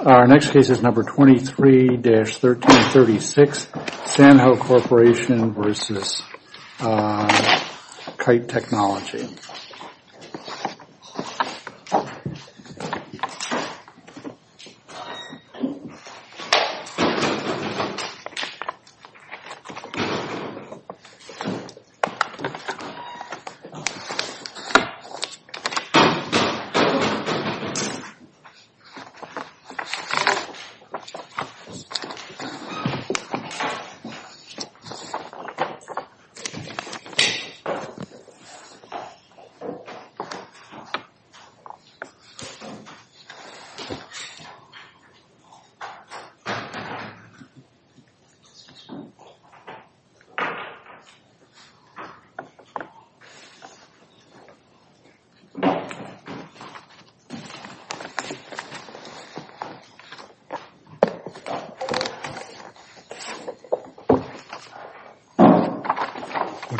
Our next case is number 23-1336, Sanho Corporation v. Kaijet Technology. This is number 23-1336, Sanho Corporation v. Kaijet Technology.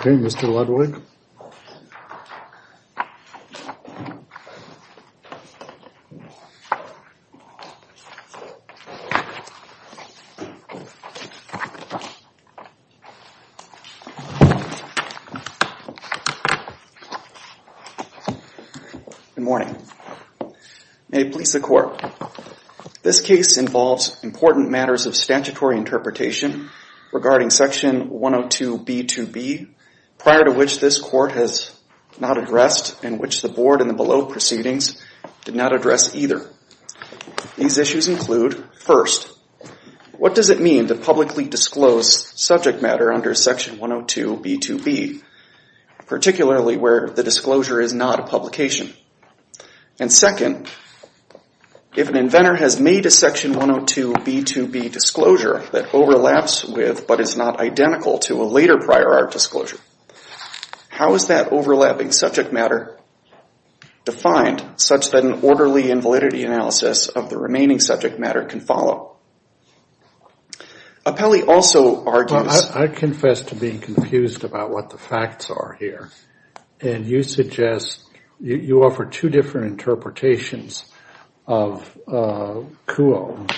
Okay, Mr. Ludwig. Good morning. May it please the Court, this case involves important matters of statutory interpretation regarding Section 102B2B prior to which this Court has not addressed and which the Board in the below proceedings did not address either. These issues include, first, what does it mean to publicly disclose subject matter under Section 102B2B, particularly where the disclosure is not a publication? And, second, if an inventor has made a Section 102B2B disclosure that overlaps with but is not identical to a later prior art disclosure, how is that overlapping subject matter defined such that an orderly and validity analysis of the remaining subject matter can follow? I confess to being confused about what the facts are here. And you suggest, you offer two different interpretations of CUO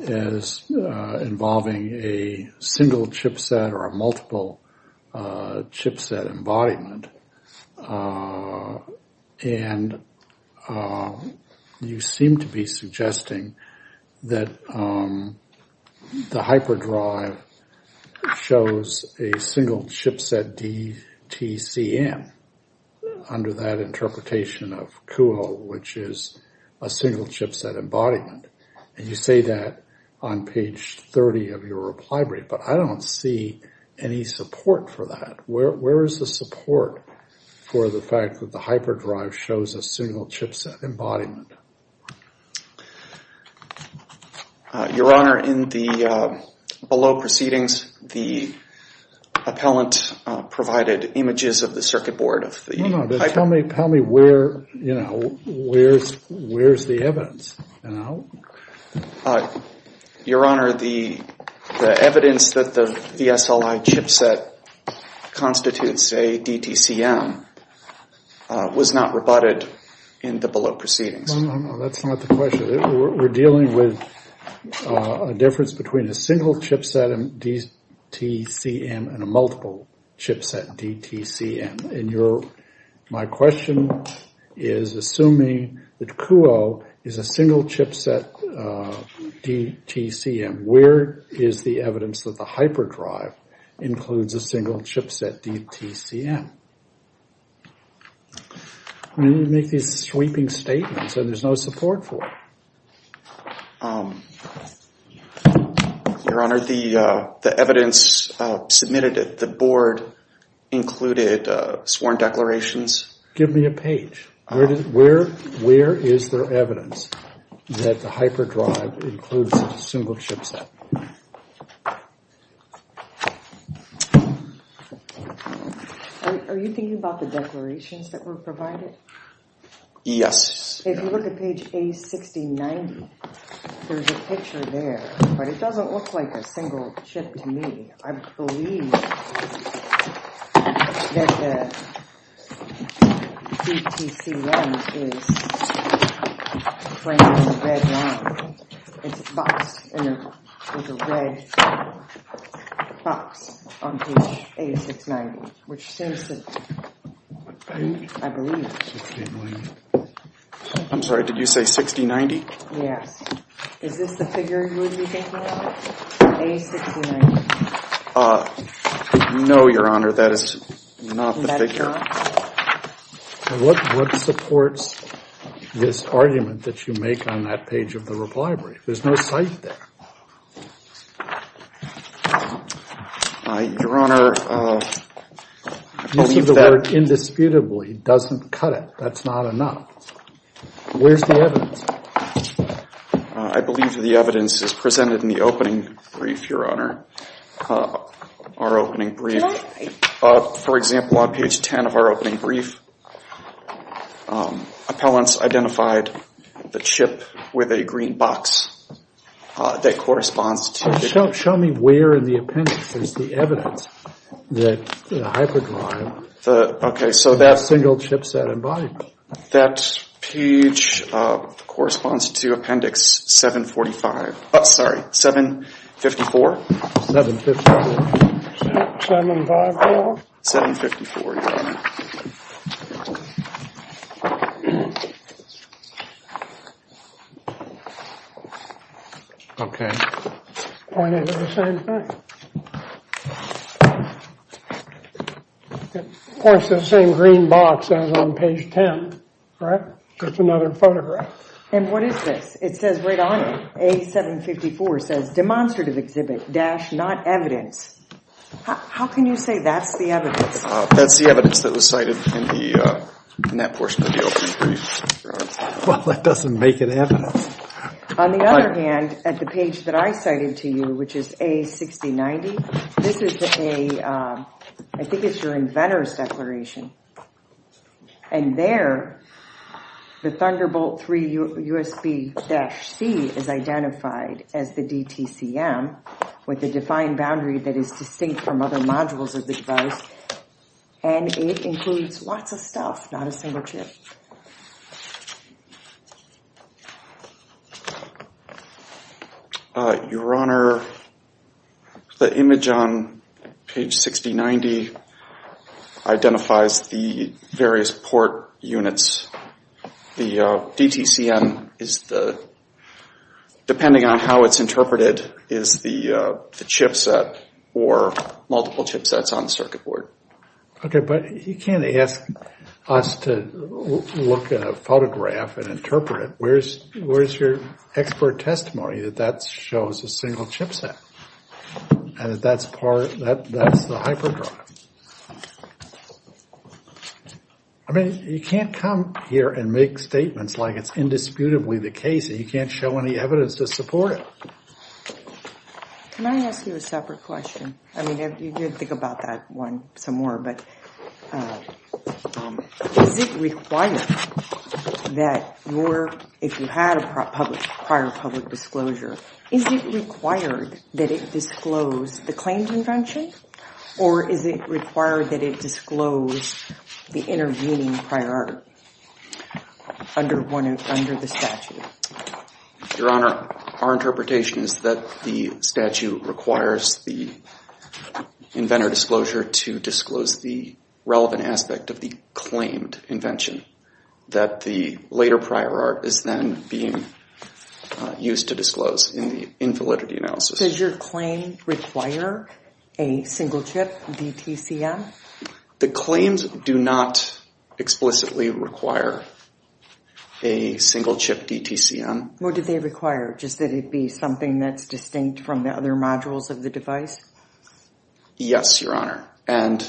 as involving a single chipset or a that the hyperdrive shows a single chipset DTCM under that interpretation of CUO, which is a single chipset embodiment. And you say that on page 30 of your reply brief, but I don't see any support for that. Where is the support for the fact that the hyperdrive shows a single chipset embodiment? Your Honor, in the below proceedings, the appellant provided images of the circuit board. Tell me where, you know, where's the evidence? Your Honor, the evidence that the VSLI chipset constitutes a DTCM was not rebutted in the below proceedings. That's not the question. We're dealing with a difference between a single chipset DTCM and a multiple chipset DTCM. My question is assuming that CUO is a single chipset DTCM. Where is the evidence that the hyperdrive includes a single chipset DTCM? You make these sweeping statements and there's no support for it. Your Honor, the evidence submitted at the board included sworn declarations. Give me a page. Where is there evidence that the hyperdrive includes a single chipset? Are you thinking about the declarations that were provided? Yes. If you look at page A6090, there's a picture there, but it doesn't look like a single chip to me. I believe that the DTCM is framed in a red line. It's boxed in a red box on page A690, which seems to me, I believe. I'm sorry. Did you say 6090? Yes. Is this the figure you would be thinking of, A6090? No, Your Honor. That is not the figure. What supports this argument that you make on that page of the reply brief? There's no cite there. Your Honor, I believe that. The board indisputably doesn't cut it. That's not enough. Where's the evidence? I believe the evidence is presented in the opening brief, Your Honor. Our opening brief. For example, on page 10 of our opening brief, appellants identified the chip with a green box that corresponds to. Show me where in the appendix is the evidence that the hyperdrive is a single chip set and body. That page corresponds to appendix 745. Oh, sorry. 754? 754. 754? 754, Your Honor. Okay. Pointing to the same thing. Of course, the same green box as on page 10, right? Just another photograph. And what is this? It says right on it, A754 says demonstrative exhibit dash not evidence. How can you say that's the evidence? That's the evidence that was cited in that portion of the opening brief, Your Honor. Well, that doesn't make it evidence. On the other hand, at the page that I cited to you, which is A6090, this is a, I think it's your inventor's declaration. And there, the Thunderbolt 3 USB dash C is identified as the DTCM with a defined boundary that is distinct from other modules of the device. And it includes lots of stuff, not a single chip. Your Honor, the image on page 6090 identifies the various port units. The DTCM is the, depending on how it's interpreted, is the chip set or multiple chip sets on the circuit board. Okay, but you can't ask us to look at a photograph and interpret it. Where's your expert testimony that that shows a single chip set and that that's the hyperdrive? I mean, you can't come here and make statements like it's indisputably the case and you can't show any evidence to support it. Can I ask you a separate question? I mean, you can think about that one some more, but is it required that your, if you had a prior public disclosure, is it required that it disclose the claimed invention or is it required that it disclose the intervening prior under the statute? Your Honor, our interpretation is that the statute requires the inventor disclosure to disclose the relevant aspect of the claimed invention that the later prior art is then being used to disclose in the invalidity analysis. Does your claim require a single chip DTCM? The claims do not explicitly require a single chip DTCM. What did they require, just that it be something that's distinct from the other modules of the device? Yes, Your Honor, and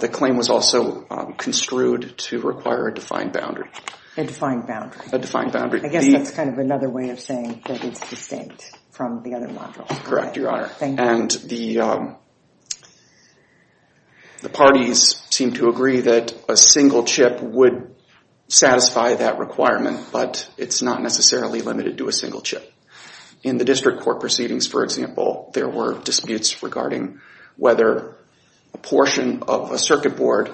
the claim was also construed to require a defined boundary. A defined boundary. A defined boundary. I guess that's kind of another way of saying that it's distinct from the other modules. Correct, Your Honor. And the parties seem to agree that a single chip would satisfy that requirement, but it's not necessarily limited to a single chip. In the district court proceedings, for example, there were disputes regarding whether a portion of a circuit board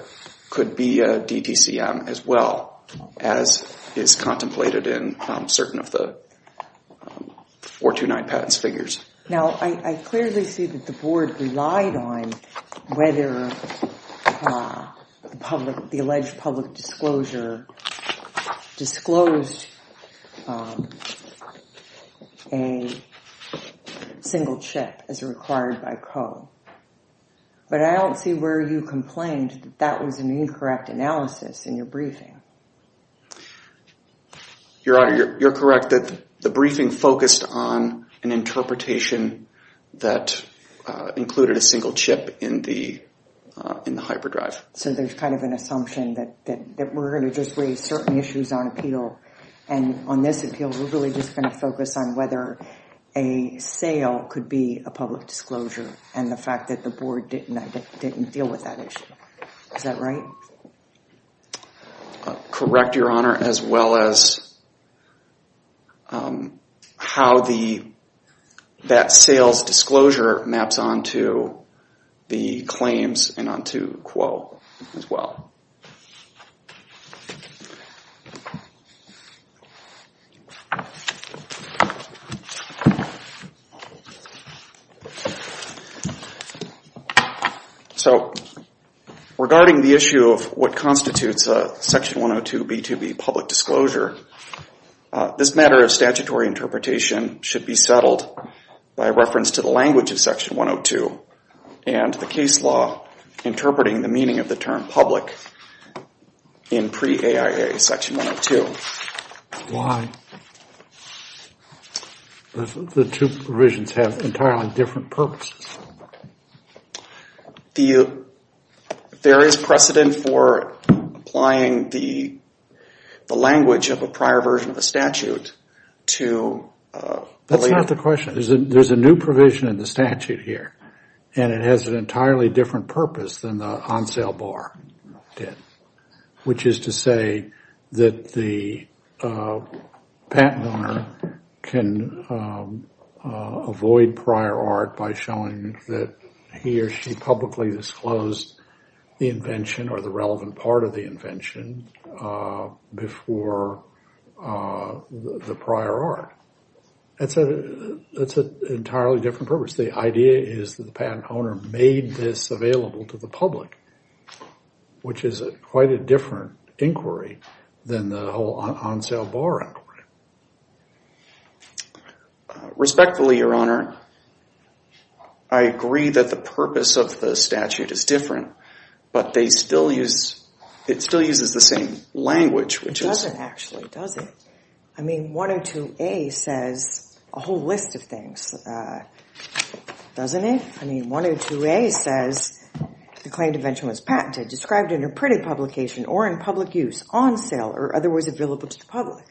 could be a DTCM as well, as is contemplated in certain of the 429 patents figures. Now, I clearly see that the board relied on whether the alleged public disclosure disclosed a single chip as required by code. But I don't see where you complained that that was an incorrect analysis in your briefing. Your Honor, you're correct that the briefing focused on an interpretation that included a single chip in the hyperdrive. So there's kind of an assumption that we're going to just raise certain issues on appeal, and on this appeal we're really just going to focus on whether a sale could be a public disclosure, and the fact that the board didn't deal with that issue. Is that right? Correct, Your Honor, as well as how that sales disclosure maps onto the claims and onto quo as well. So, regarding the issue of what constitutes a Section 102 B2B public disclosure, this matter of statutory interpretation should be settled by reference to the language of Section 102 and the case law interpreting the meaning of the term public in pre-AIA Section 102. Why? The two provisions have entirely different purposes. There is precedent for applying the language of a prior version of the statute to the later. That's the question. There's a new provision in the statute here, and it has an entirely different purpose than the on-sale bar did, which is to say that the patent owner can avoid prior art by showing that he or she publicly disclosed the invention or the relevant part of the invention before the prior art. That's an entirely different purpose. The idea is that the patent owner made this available to the public, which is quite a different inquiry than the whole on-sale bar inquiry. Respectfully, Your Honor, I agree that the purpose of the statute is different, but it still uses the same language. It doesn't actually, does it? I mean, 102A says a whole list of things, doesn't it? I mean, 102A says the claimed invention was patented, described in a printed publication, or in public use, on sale, or otherwise available to the public.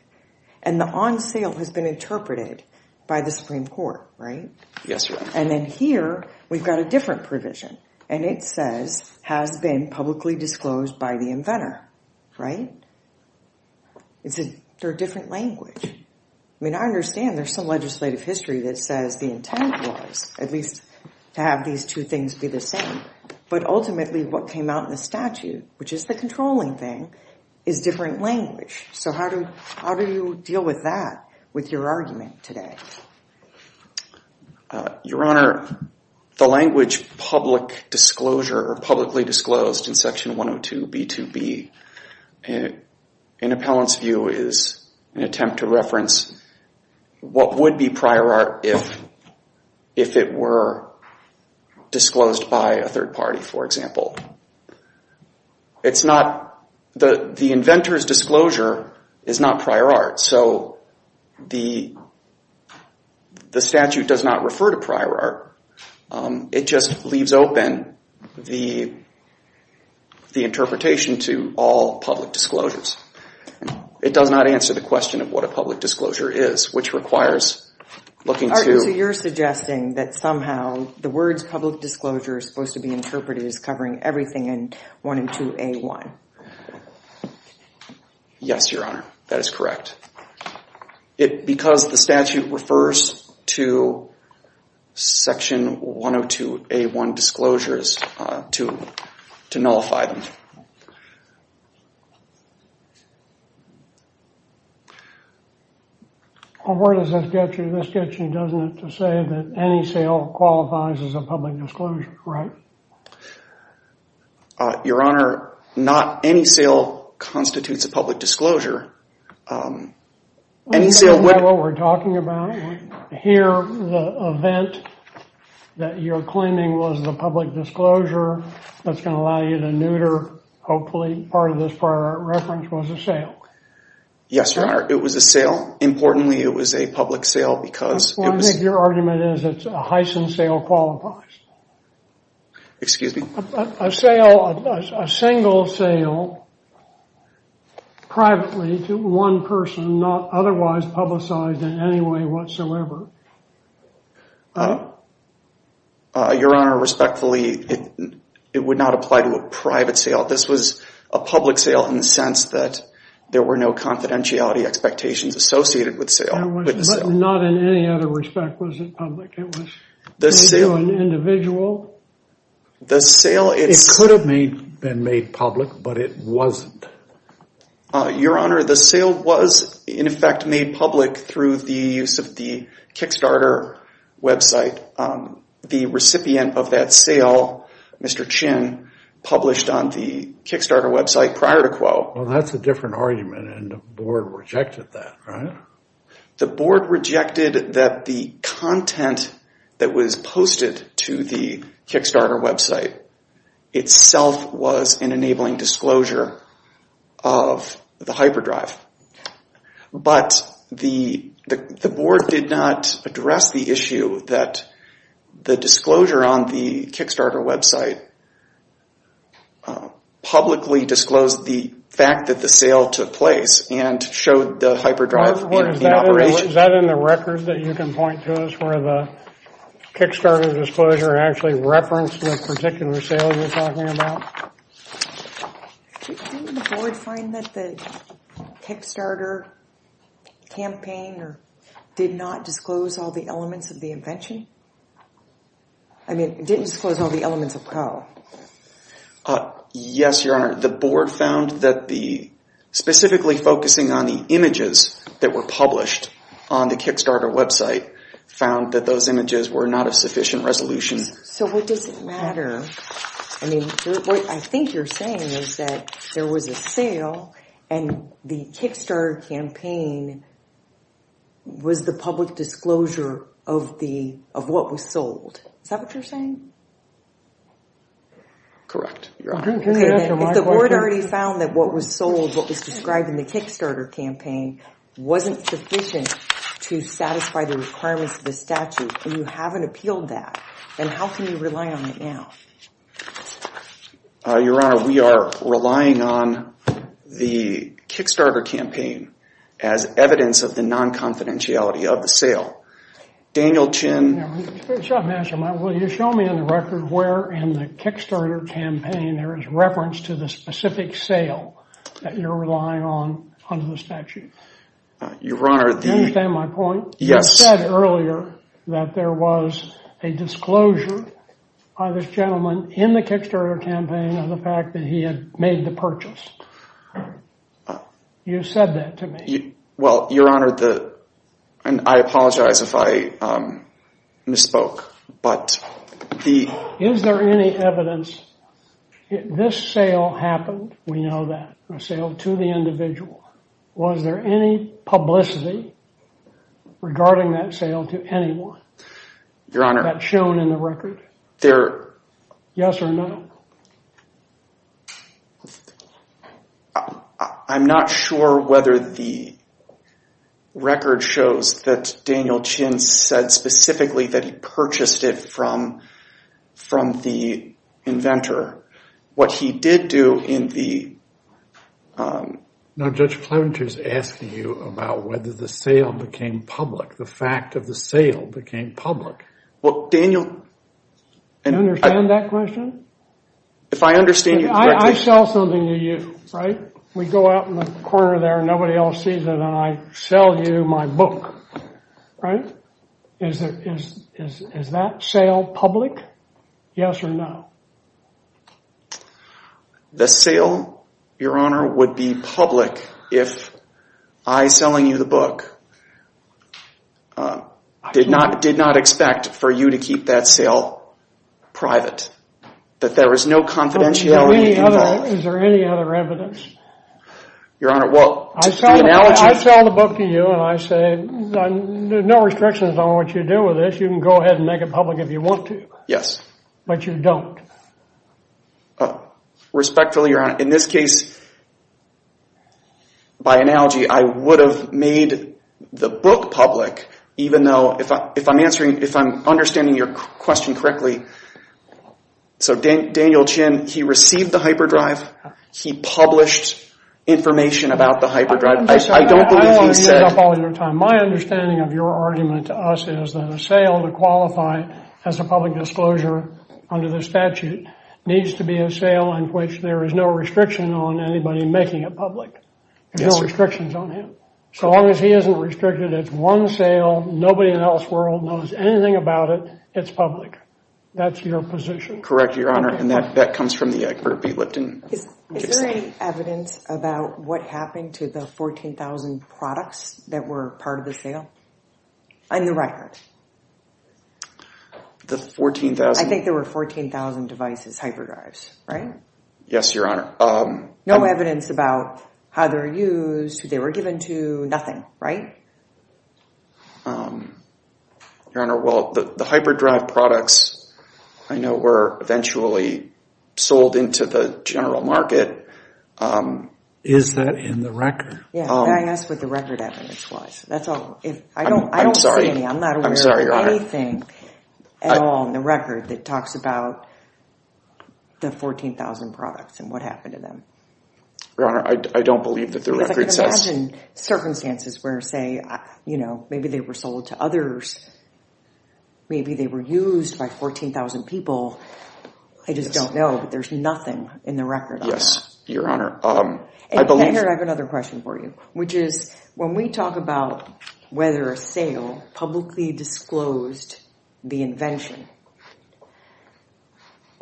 And the on-sale has been interpreted by the Supreme Court, right? Yes, Your Honor. And then here, we've got a different provision, and it says has been publicly disclosed by the inventor, right? They're a different language. I mean, I understand there's some legislative history that says the intent was, at least, to have these two things be the same. But ultimately, what came out in the statute, which is the controlling thing, is different language. So how do you deal with that, with your argument today? Your Honor, the language public disclosure, or publicly disclosed, in Section 102B2B, in appellant's view, is an attempt to reference what would be prior art if it were disclosed by a third party, for example. It's not, the inventor's disclosure is not prior art. So the statute does not refer to prior art. It just leaves open the interpretation to all public disclosures. It does not answer the question of what a public disclosure is, which requires looking to- So you're suggesting that somehow the words public disclosure are supposed to be interpreted as covering everything in 102A1. Yes, Your Honor, that is correct. Because the statute refers to Section 102A1 disclosures to nullify them. Well, where does this get you? This gets you, doesn't it, to say that any sale qualifies as a public disclosure, right? Your Honor, not any sale constitutes a public disclosure. Any sale would- We know what we're talking about. Here, the event that you're claiming was a public disclosure, that's going to allow you to neuter, hopefully, part of this prior art reference was a sale. Yes, Your Honor, it was a sale. Importantly, it was a public sale because- Well, I think your argument is it's a Heisen sale qualifies. Excuse me? A sale, a single sale, privately to one person, not otherwise publicized in any way whatsoever. Your Honor, respectfully, it would not apply to a private sale. This was a public sale in the sense that there were no confidentiality expectations associated with sale. Not in any other respect was it public. Maybe an individual. It could have been made public, but it wasn't. Your Honor, the sale was, in effect, made public through the use of the Kickstarter website. The recipient of that sale, Mr. Chin, published on the Kickstarter website prior to Quo. Well, that's a different argument, and the board rejected that, right? The board rejected that the content that was posted to the Kickstarter website itself was an enabling disclosure of the hyperdrive. But the board did not address the issue that the disclosure on the Kickstarter website publicly disclosed the fact that the sale took place and showed the hyperdrive- Your Honor, is that in the record that you can point to us where the Kickstarter disclosure actually referenced the particular sale you're talking about? Didn't the board find that the Kickstarter campaign did not disclose all the elements of the invention? I mean, didn't disclose all the elements of Quo. Yes, Your Honor. The board found that the- specifically focusing on the images that were published on the Kickstarter website found that those images were not of sufficient resolution. So what does it matter? I mean, what I think you're saying is that there was a sale, and the Kickstarter campaign was the public disclosure of what was sold. Is that what you're saying? Correct, Your Honor. If the board already found that what was sold, what was described in the Kickstarter campaign wasn't sufficient to satisfy the requirements of the statute, and you haven't appealed that, then how can you rely on it now? Your Honor, we are relying on the Kickstarter campaign as evidence of the non-confidentiality of the sale. Daniel Chin- Will you show me on the record where in the Kickstarter campaign there is reference to the specific sale that you're relying on under the statute? Your Honor, the- Do you understand my point? Yes. You said earlier that there was a disclosure by this gentleman in the Kickstarter campaign of the fact that he had made the purchase. You said that to me. Well, Your Honor, and I apologize if I misspoke, but the- Is there any evidence that this sale happened, we know that, a sale to the individual? Was there any publicity regarding that sale to anyone? Your Honor- That's shown in the record? There- Yes or no? I'm not sure whether the record shows that Daniel Chin said specifically that he purchased it from the inventor. What he did do in the- Now, Judge Clement is asking you about whether the sale became public, the fact of the sale became public. Well, Daniel- Do you understand that question? If I understand you correctly- I sell something to you, right? We go out in the corner there and nobody else sees it and I sell you my book, right? Is that sale public? Yes or no? The sale, Your Honor, would be public if I selling you the book I did not expect for you to keep that sale private, that there was no confidentiality involved. Is there any other evidence? Your Honor, well, the analogy- I sell the book to you and I say, no restrictions on what you do with it, you can go ahead and make it public if you want to. Yes. But you don't. Respectfully, Your Honor, in this case, by analogy, I would have made the book public even though if I'm understanding your question correctly, so Daniel Chin, he received the hyperdrive, he published information about the hyperdrive. I don't believe he said- I don't want to use up all your time. My understanding of your argument to us is that a sale to qualify as a public disclosure under the statute needs to be a sale in which there is no restriction on anybody making it public. Yes. No restrictions on him. So long as he isn't restricted, it's one sale, nobody else in the world knows anything about it, it's public. That's your position. Correct, Your Honor, and that comes from the expert, Pete Lipton. Is there any evidence about what happened to the 14,000 products that were part of the sale? On the record. The 14,000- I think there were 14,000 devices, hyperdrives, right? Yes, Your Honor. No evidence about how they were used, who they were given to, nothing, right? Your Honor, well, the hyperdrive products I know were eventually sold into the general market. Is that in the record? Yes, that's what the record evidence was. I'm sorry. I'm not aware of anything at all in the record that talks about the 14,000 products and what happened to them. Your Honor, I don't believe that the record says- Because I can imagine circumstances where, say, maybe they were sold to others, maybe they were used by 14,000 people. I just don't know, but there's nothing in the record on that. Yes, Your Honor. I have another question for you, which is when we talk about whether a sale publicly disclosed the invention,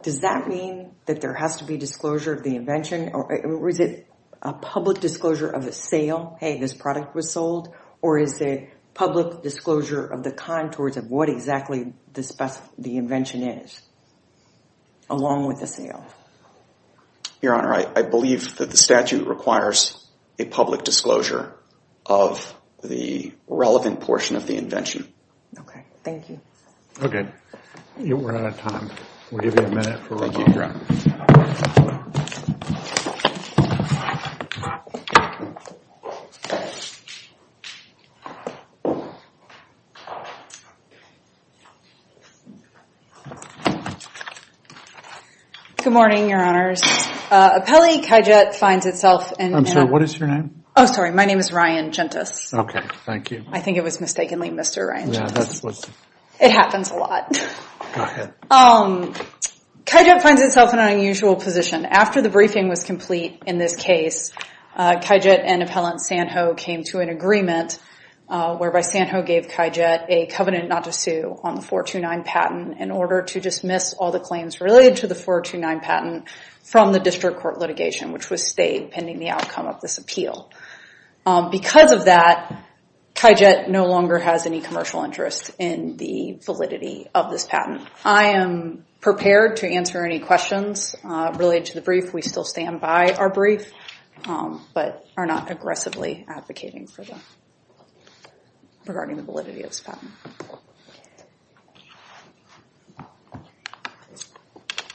does that mean that there has to be disclosure of the invention? Or is it a public disclosure of a sale, hey, this product was sold? Or is it public disclosure of the contours of what exactly the invention is, along with the sale? Your Honor, I believe that the statute requires a public disclosure of the relevant portion of the invention. Okay, thank you. Okay, we're out of time. We'll give you a minute for rebuttal. Thank you, Your Honor. Good morning, Your Honors. Appellee Kajet finds itself in- I'm sorry, what is your name? Oh, sorry. My name is Ryan Gentis. Okay, thank you. I think it was mistakenly Mr. Ryan Gentis. Yeah, that's what- It happens a lot. I think it was mistakenly Mr. Ryan Gentis. Yeah, that's what- It happens a lot. Go ahead. After the briefing was complete in this case, Kajet and Appellant Sanho came to an agreement, whereby Sanho gave Kajet a covenant not to sue on the 429 patent in order to dismiss all the claims related to the 429 patent from the district court litigation, which was stayed pending the outcome of this appeal. Because of that, Kajet no longer has any commercial interest in the validity of this patent. I am prepared to answer any questions related to the brief. We still stand by our brief, but are not aggressively advocating for them regarding the validity of this patent.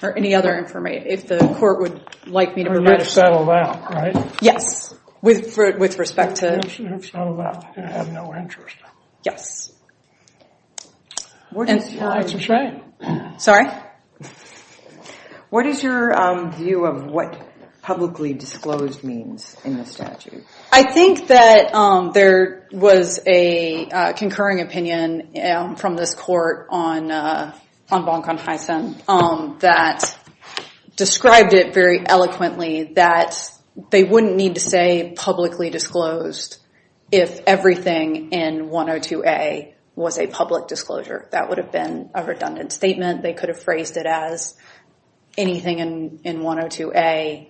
Are there any other information? If the court would like me to provide- We're going to settle that, right? Yes. With respect to- Let's settle that. I have no interest. Yes. Your answer's right. Sorry? What is your view of what publicly disclosed means in this statute? I think that there was a concurring opinion from this court on Bonk on Heisen that described it very eloquently that they wouldn't need to say publicly disclosed if everything in 102A was a public disclosure. That would have been a redundant statement. They could have phrased it as anything in 102A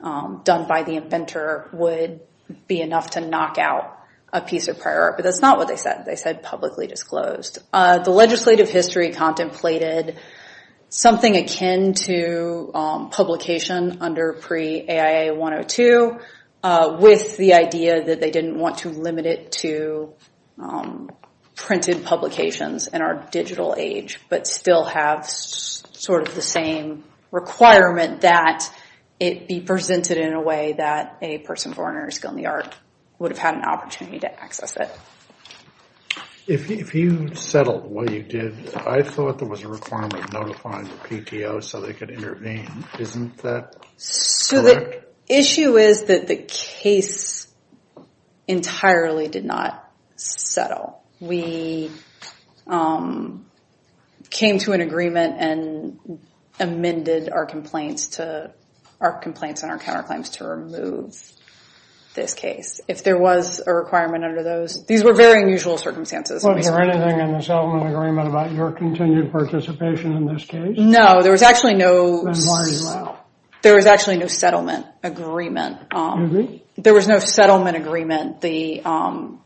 done by the inventor would be enough to knock out a piece of prior art. But that's not what they said. They said publicly disclosed. The legislative history contemplated something akin to publication under pre-AIA-102 with the idea that they didn't want to limit it to printed publications in our digital age but still have sort of the same requirement that it be presented in a way that a person born or skilled in the art would have had an opportunity to access it. If you settled what you did, I thought there was a requirement notifying the PTO so they could intervene. Isn't that correct? The issue is that the case entirely did not settle. We came to an agreement and amended our complaints and our counterclaims to remove this case. If there was a requirement under those, these were very unusual circumstances. Was there anything in the settlement agreement about your continued participation in this case? No, there was actually no settlement agreement. There was no settlement agreement. The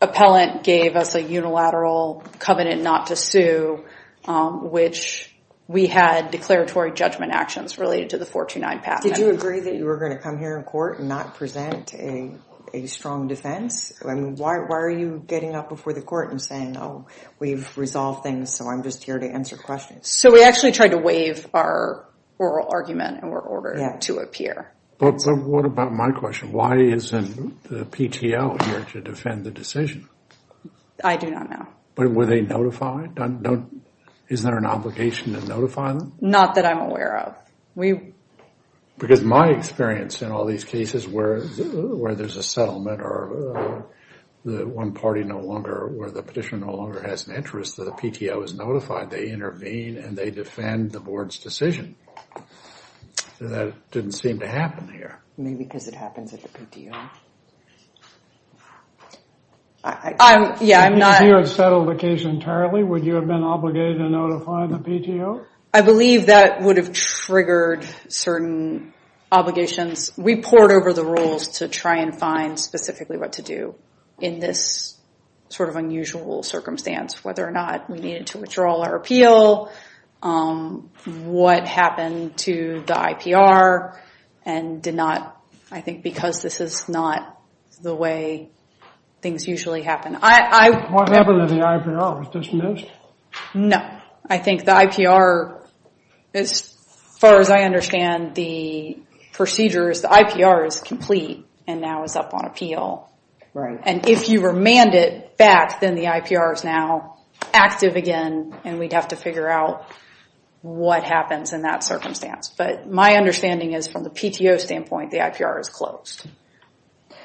appellant gave us a unilateral covenant not to sue, which we had declaratory judgment actions related to the 429 patent. Did you agree that you were going to come here in court and not present a strong defense? Why are you getting up before the court and saying, oh, we've resolved things so I'm just here to answer questions? So we actually tried to waive our oral argument in order to appear. But what about my question? Why isn't the PTO here to defend the decision? I do not know. Were they notified? Is there an obligation to notify them? Not that I'm aware of. Because my experience in all these cases where there's a settlement or the one party no longer, where the petitioner no longer has an interest, the PTO is notified. They intervene and they defend the board's decision. That didn't seem to happen here. Maybe because it happens at the PTO. If you had settled the case entirely, would you have been obligated to notify the PTO? I believe that would have triggered certain obligations. We poured over the rules to try and find specifically what to do in this sort of unusual circumstance, whether or not we needed to withdraw our appeal, what happened to the IPR, and did not, I think because this is not the way things usually happen. What happened to the IPR? Was it dismissed? No. I think the IPR, as far as I understand the procedures, the IPR is complete and now is up on appeal. Right. And if you remand it back, then the IPR is now active again, and we'd have to figure out what happens in that circumstance. But my understanding is from the PTO standpoint, the IPR is closed.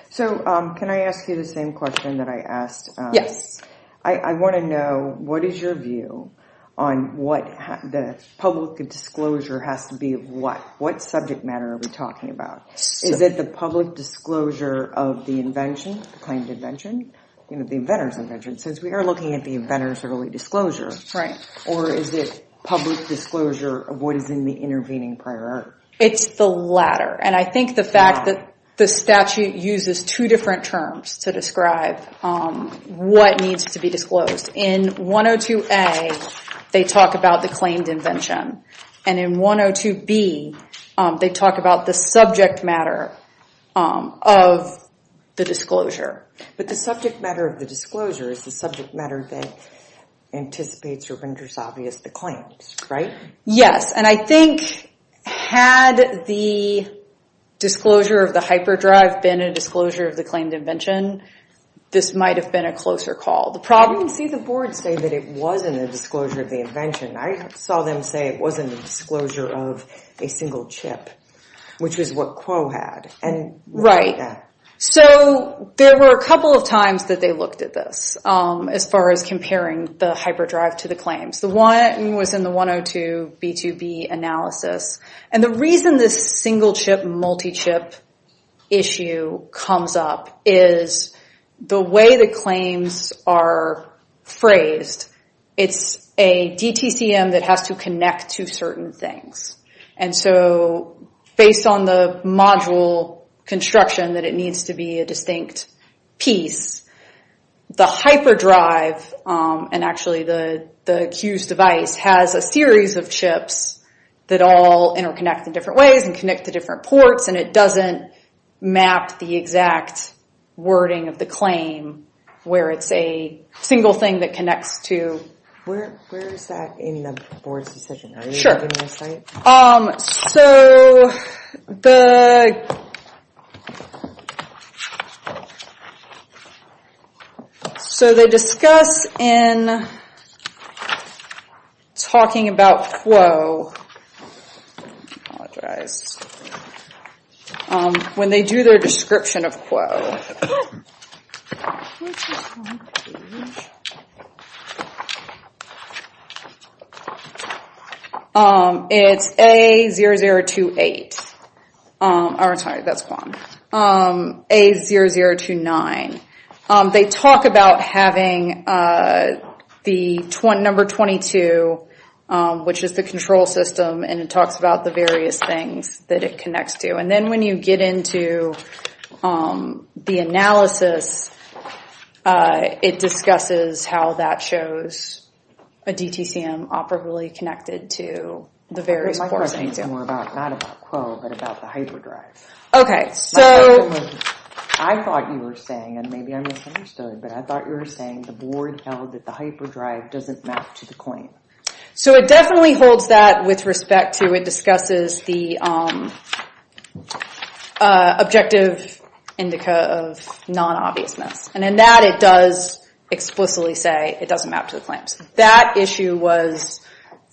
So can I ask you the same question that I asked? Yes. I want to know what is your view on what the public disclosure has to be of what? What subject matter are we talking about? Is it the public disclosure of the invention, the claimed invention, the inventor's invention? Since we are looking at the inventor's early disclosure. Right. Or is it public disclosure of what is in the intervening prior art? It's the latter. And I think the fact that the statute uses two different terms to describe what needs to be disclosed. In 102A, they talk about the claimed invention. And in 102B, they talk about the subject matter of the disclosure. But the subject matter of the disclosure is the subject matter that anticipates or renders obvious the claims, right? Yes. And I think had the disclosure of the hyperdrive been a disclosure of the claimed invention, this might have been a closer call. You can see the board say that it wasn't a disclosure of the invention. I saw them say it wasn't a disclosure of a single chip, which is what Quo had. Right. So there were a couple of times that they looked at this as far as comparing the hyperdrive to the claims. The one was in the 102B2B analysis. And the reason this single chip, multi-chip issue comes up is the way the claims are phrased. It's a DTCM that has to connect to certain things. And so based on the module construction that it needs to be a distinct piece, the hyperdrive, and actually the Q's device, has a series of chips that all interconnect in different ways and connect to different ports. And it doesn't map the exact wording of the claim where it's a single thing that connects to. Where is that in the board's decision? Sure. So the. So they discuss in talking about Quo. When they do their description of Quo. It's A0028. Sorry, that's Quan. A0029. They talk about having the number 22, which is the control system, and it talks about the various things that it connects to. And then when you get into the analysis, it discusses how that shows a DTCM operably connected to the various ports. My question is more about, not about Quo, but about the hyperdrive. Okay, so. I thought you were saying, and maybe I misunderstood, but I thought you were saying the board held that the hyperdrive doesn't map to the claim. So it definitely holds that with respect to it discusses the objective indica of non-obviousness. And in that it does explicitly say it doesn't map to the claims. That issue was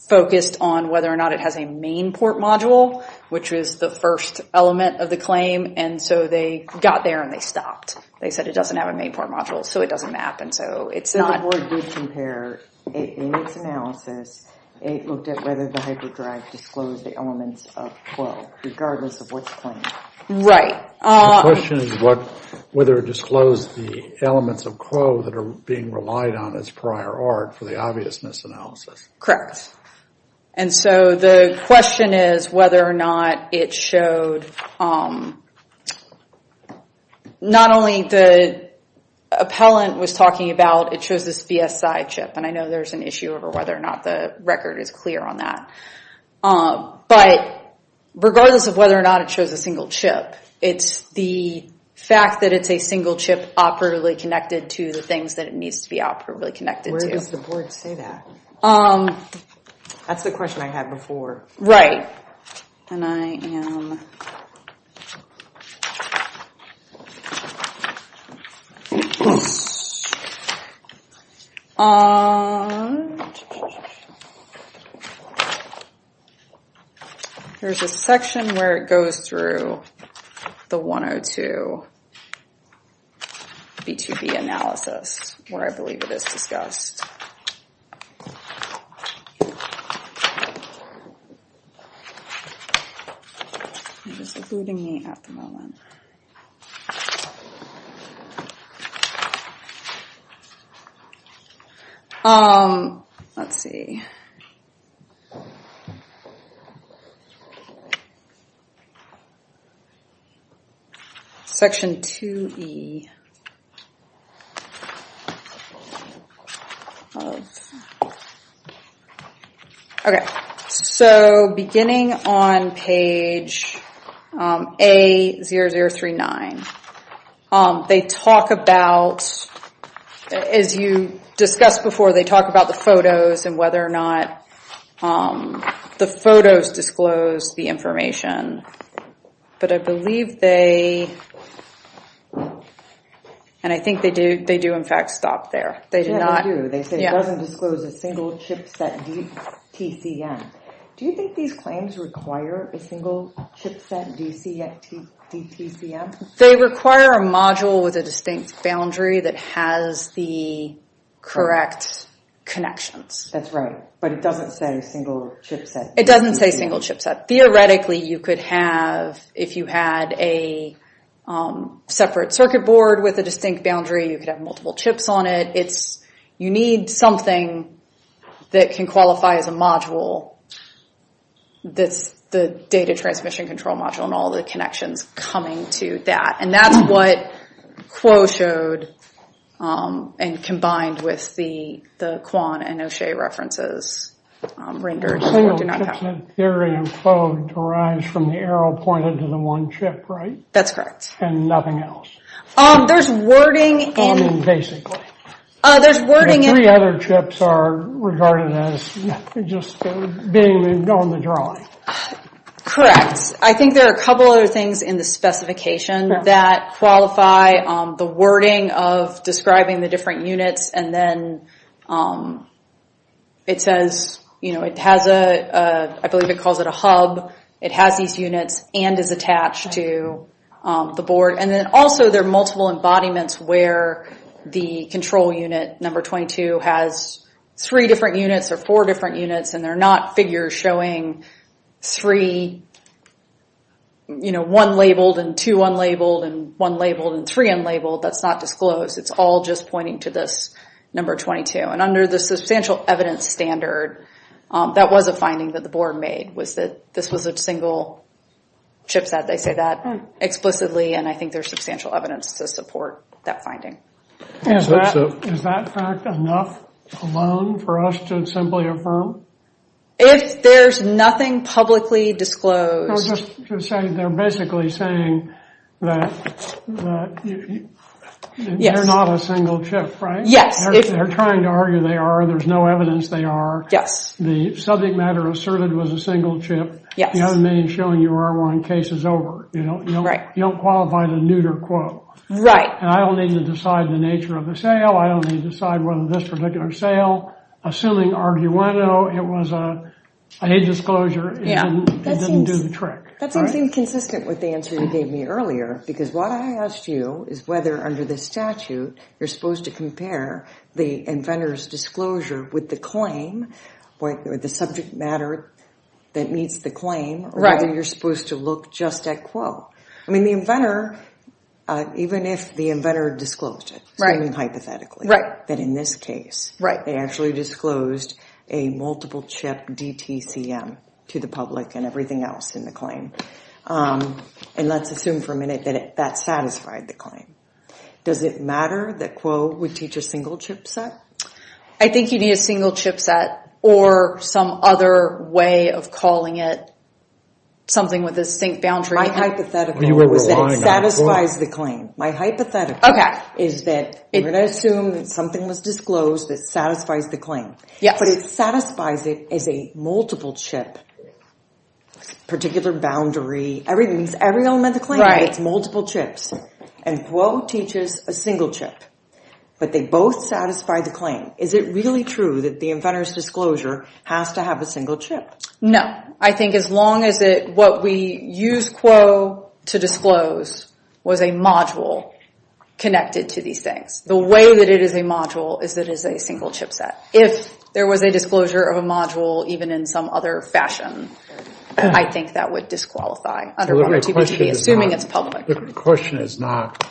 focused on whether or not it has a main port module, which was the first element of the claim. And so they got there and they stopped. They said it doesn't have a main port module, so it doesn't map. So the board did compare it in its analysis. It looked at whether the hyperdrive disclosed the elements of Quo, regardless of what's claimed. Right. The question is whether it disclosed the elements of Quo that are being relied on as prior art for the obviousness analysis. Correct. And so the question is whether or not it showed, not only the appellant was talking about, it shows this VSI chip. And I know there's an issue over whether or not the record is clear on that. But regardless of whether or not it shows a single chip, it's the fact that it's a single chip operatively connected to the things that it needs to be operatively connected to. Why does the board say that? That's the question I had before. Right. And I am... There's a section where it goes through the 102 B2B analysis, where I believe it is discussed. It's eluding me at the moment. Let's see. Section 2E. Okay. So beginning on page A0039, they talk about, as you discussed before, they talk about the photos and whether or not the photos disclose the information. But I believe they... And I think they do in fact stop there. Yeah, they do. They say it doesn't disclose a single chip set DTCM. Do you think these claims require a single chip set DTCM? They require a module with a distinct boundary that has the correct connections. That's right. But it doesn't say a single chip set. It doesn't say single chip set. Theoretically, you could have, if you had a separate circuit board with a distinct boundary, you could have multiple chips on it. You need something that can qualify as a module that's the data transmission control module and all the connections coming to that. And that's what Kuo showed and combined with the Quan and O'Shea references rendered. A single chip set theory in code derives from the arrow pointed to the one chip, right? That's correct. And nothing else. There's wording in... Basically. There's wording in... The three other chips are regarded as just being on the drawing. Correct. I think there are a couple other things in the specification that qualify the wording of describing the different units. And then it says it has a... I believe it calls it a hub. It has these units and is attached to the board. And then also there are multiple embodiments where the control unit, number 22, has three different units or four different units. And they're not figures showing three... One labeled and two unlabeled and one labeled and three unlabeled. That's not disclosed. It's all just pointing to this number 22. And under the substantial evidence standard, that was a finding that the board made was that this was a single chip set. They say that explicitly and I think there's substantial evidence to support that finding. Is that fact enough alone for us to simply affirm? If there's nothing publicly disclosed... They're basically saying that they're not a single chip, right? Yes. They're trying to argue they are. There's no evidence they are. Yes. The subject matter asserted was a single chip. It doesn't mean showing you are one case is over. You don't qualify the neuter quote. Right. And I don't need to decide the nature of the sale. I don't need to decide whether this particular sale, assuming arguendo, it was a disclosure, it didn't do the trick. That seems inconsistent with the answer you gave me earlier because what I asked you is whether under the statute, you're supposed to compare the inventor's disclosure with the claim, with the subject matter that meets the claim, or whether you're supposed to look just at quote. I mean, the inventor, even if the inventor disclosed it, hypothetically, that in this case, they actually disclosed a multiple chip DTCM to the public and everything else in the claim. And let's assume for a minute that that satisfied the claim. Does it matter that quote would teach a single chip set? I think you need a single chip set or some other way of calling it something with a distinct boundary. My hypothetical is that it satisfies the claim. My hypothetical is that we're going to assume that something was disclosed that satisfies the claim. Yes. But it satisfies it as a multiple chip, particular boundary, every element of the claim. Right. It's multiple chips. And quote teaches a single chip, but they both satisfy the claim. Is it really true that the inventor's disclosure has to have a single chip? No. I think as long as it what we use quo to disclose was a module connected to these things. The way that it is a module is that it is a single chip set. If there was a disclosure of a module, even in some other fashion, I think that would disqualify. Assuming it's public. The question is not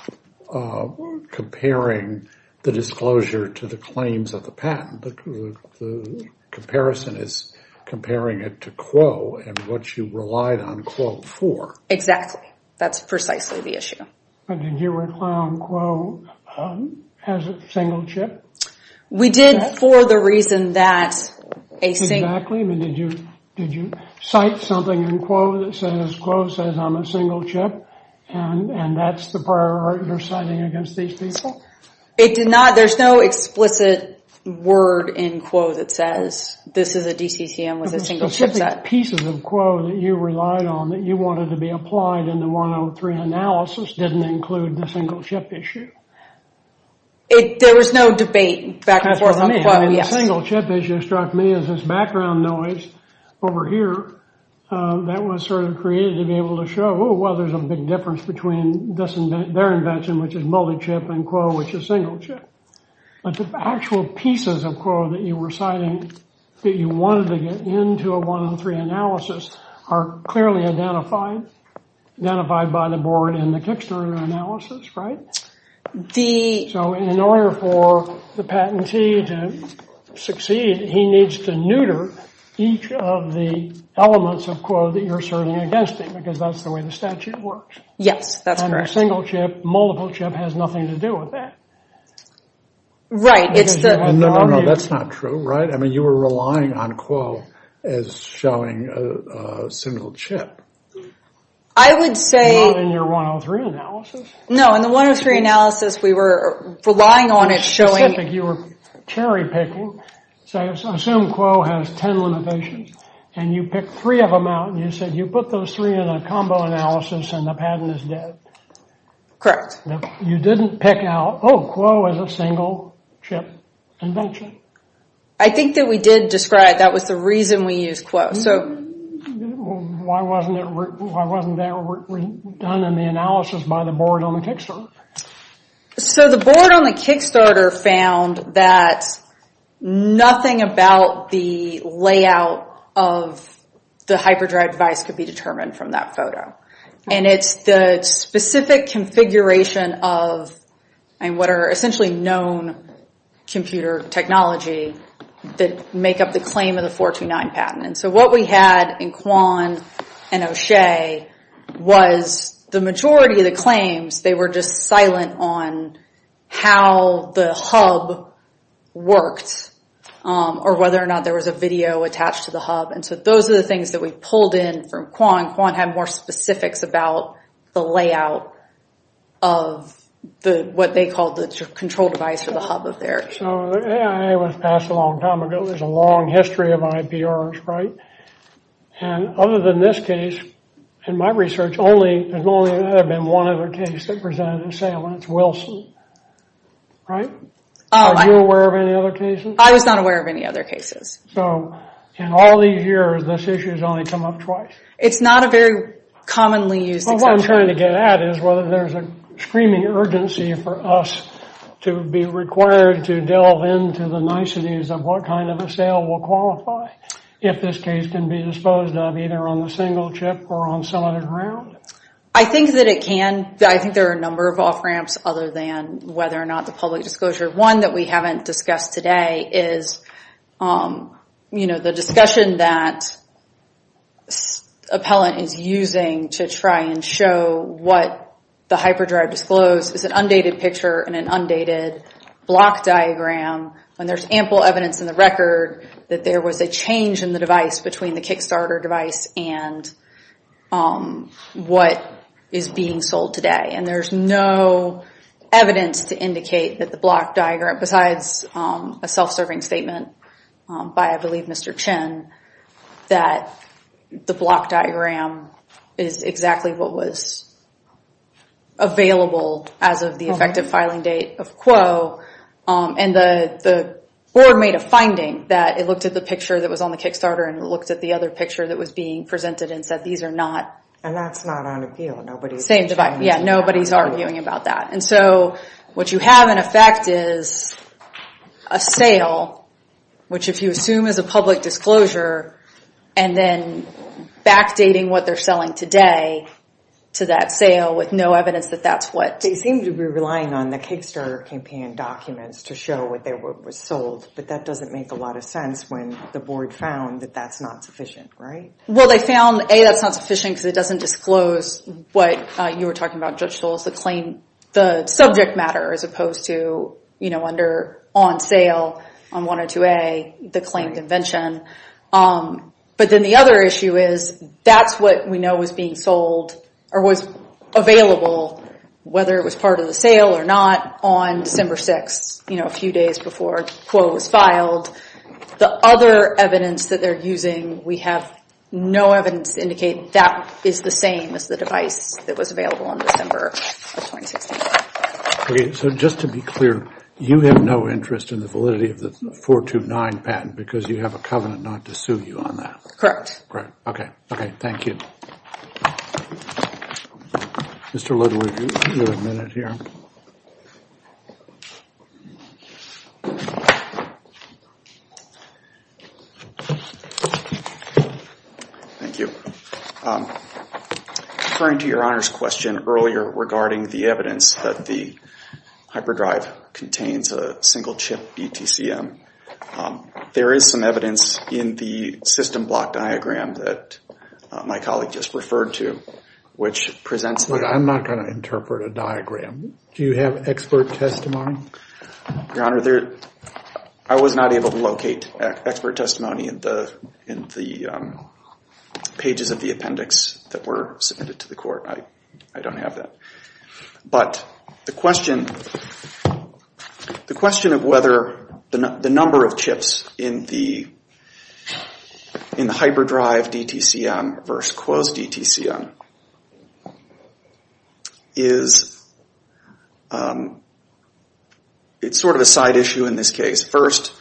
comparing the disclosure to the claims of the patent. The comparison is comparing it to quo and what you relied on quo for. Exactly. That's precisely the issue. But did you rely on quo as a single chip? We did for the reason that a single. Exactly. Did you cite something in quo that says quo says I'm a single chip? And that's the priority you're citing against these people? It did not. There's no explicit word in quo that says this is a DCCM with a single chip set. The specific pieces of quo that you relied on that you wanted to be applied in the 103 analysis didn't include the single chip issue. There was no debate back and forth on quo. The single chip issue struck me as this background noise over here that was sort of created to be able to show, well, there's a big difference between their invention, which is multi-chip, and quo, which is single chip. But the actual pieces of quo that you were citing that you wanted to get into a 103 analysis are clearly identified, identified by the board in the Kickstarter analysis, right? So in order for the patentee to succeed, he needs to neuter each of the elements of quo that you're serving against him because that's the way the statute works. Yes, that's correct. And a single chip, multiple chip has nothing to do with that. Right. No, no, no, that's not true, right? I mean, you were relying on quo as showing a single chip. I would say. Not in your 103 analysis. No, in the 103 analysis, we were relying on it showing. You were cherry picking. So assume quo has 10 limitations, and you pick three of them out, and you said you put those three in a combo analysis, and the patent is dead. Correct. You didn't pick out, oh, quo is a single chip invention. I think that we did describe that was the reason we used quo, so. Why wasn't that done in the analysis by the board on the Kickstarter? So the board on the Kickstarter found that nothing about the layout of the hyperdrive device could be determined from that photo. And it's the specific configuration of what are essentially known computer technology that make up the claim of the 429 patent. And so what we had in Quan and O'Shea was the majority of the claims, they were just silent on how the hub worked, or whether or not there was a video attached to the hub. And so those are the things that we pulled in from Quan. Quan had more specifics about the layout of what they called the control device or the hub of theirs. So the AIA was passed a long time ago. There's a long history of IPRs, right? And other than this case, in my research, there's only ever been one other case that presented a sale, and it's Wilson, right? Are you aware of any other cases? I was not aware of any other cases. So in all these years, this issue has only come up twice? It's not a very commonly used example. What I'm trying to get at is whether there's a screaming urgency for us to be required to delve into the niceties of what kind of a sale will qualify, if this case can be disposed of either on the single chip or on some other ground. I think that it can. I think there are a number of off-ramps other than whether or not the public disclosure. One that we haven't discussed today is the discussion that appellant is using to try and show what the hyperdrive disclosed is an undated picture and an undated block diagram when there's ample evidence in the record that there was a change in the device between the Kickstarter device and what is being sold today. And there's no evidence to indicate that the block diagram, besides a self-serving statement by, I believe, Mr. Chen, that the block diagram is exactly what was available as of the effective filing date of Quo. And the board made a finding that it looked at the picture that was on the Kickstarter and it looked at the other picture that was being presented and said these are not... And that's not on appeal. Yeah, nobody's arguing about that. And so what you have in effect is a sale, which if you assume is a public disclosure, and then backdating what they're selling today to that sale with no evidence that that's what... They seem to be relying on the Kickstarter campaign documents to show what was sold, but that doesn't make a lot of sense when the board found that that's not sufficient, right? Well, they found, A, that's not sufficient because it doesn't disclose what you were talking about, Judge Solis, the subject matter as opposed to under on sale on 102A, the claim convention. But then the other issue is that's what we know was being sold or was available, whether it was part of the sale or not, on December 6th, a few days before Quo was filed. The other evidence that they're using, we have no evidence to indicate that is the same as the device that was available on December of 2016. Okay, so just to be clear, you have no interest in the validity of the 429 patent because you have a covenant not to sue you on that? Correct. Okay, thank you. Mr. Little, you have a minute here. Thank you. Referring to your Honor's question earlier regarding the evidence that the hyperdrive contains a single chip BTCM, there is some evidence in the system block diagram that my colleague just referred to which presents the Look, I'm not going to interpret a diagram. Do you have expert testimony? Your Honor, I was not able to locate expert testimony in the pages of the appendix that were submitted to the court. I don't have that. But the question of whether the number of chips in the hyperdrive DTCM versus Quo's DTCM is sort of a side issue in this case. First,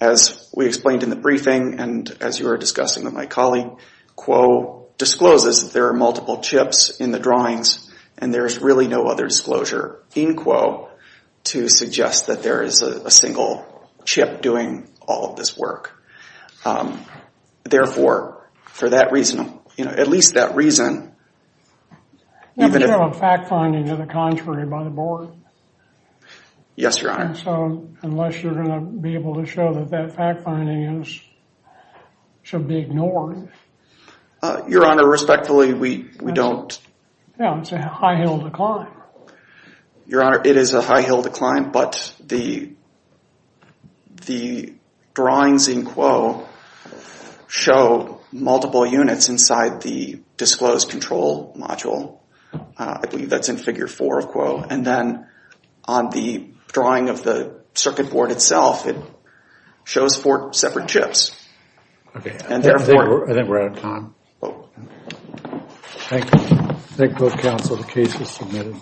as we explained in the briefing and as you were discussing with my colleague, Quo discloses that there are multiple chips in the drawings and there is really no other disclosure in Quo to suggest that there is a single chip doing all of this work. Therefore, for that reason, at least that reason, If you have a fact finding of the contrary by the board? Yes, Your Honor. Unless you're going to be able to show that that fact finding should be ignored. Your Honor, respectfully, we don't. It's a high hill to climb. Your Honor, it is a high hill to climb, but the drawings in Quo show multiple units inside the disclosed control module. And then on the drawing of the circuit board itself, it shows four separate chips. Okay, I think we're out of time. Thank you. Thank both counsel. The case is submitted.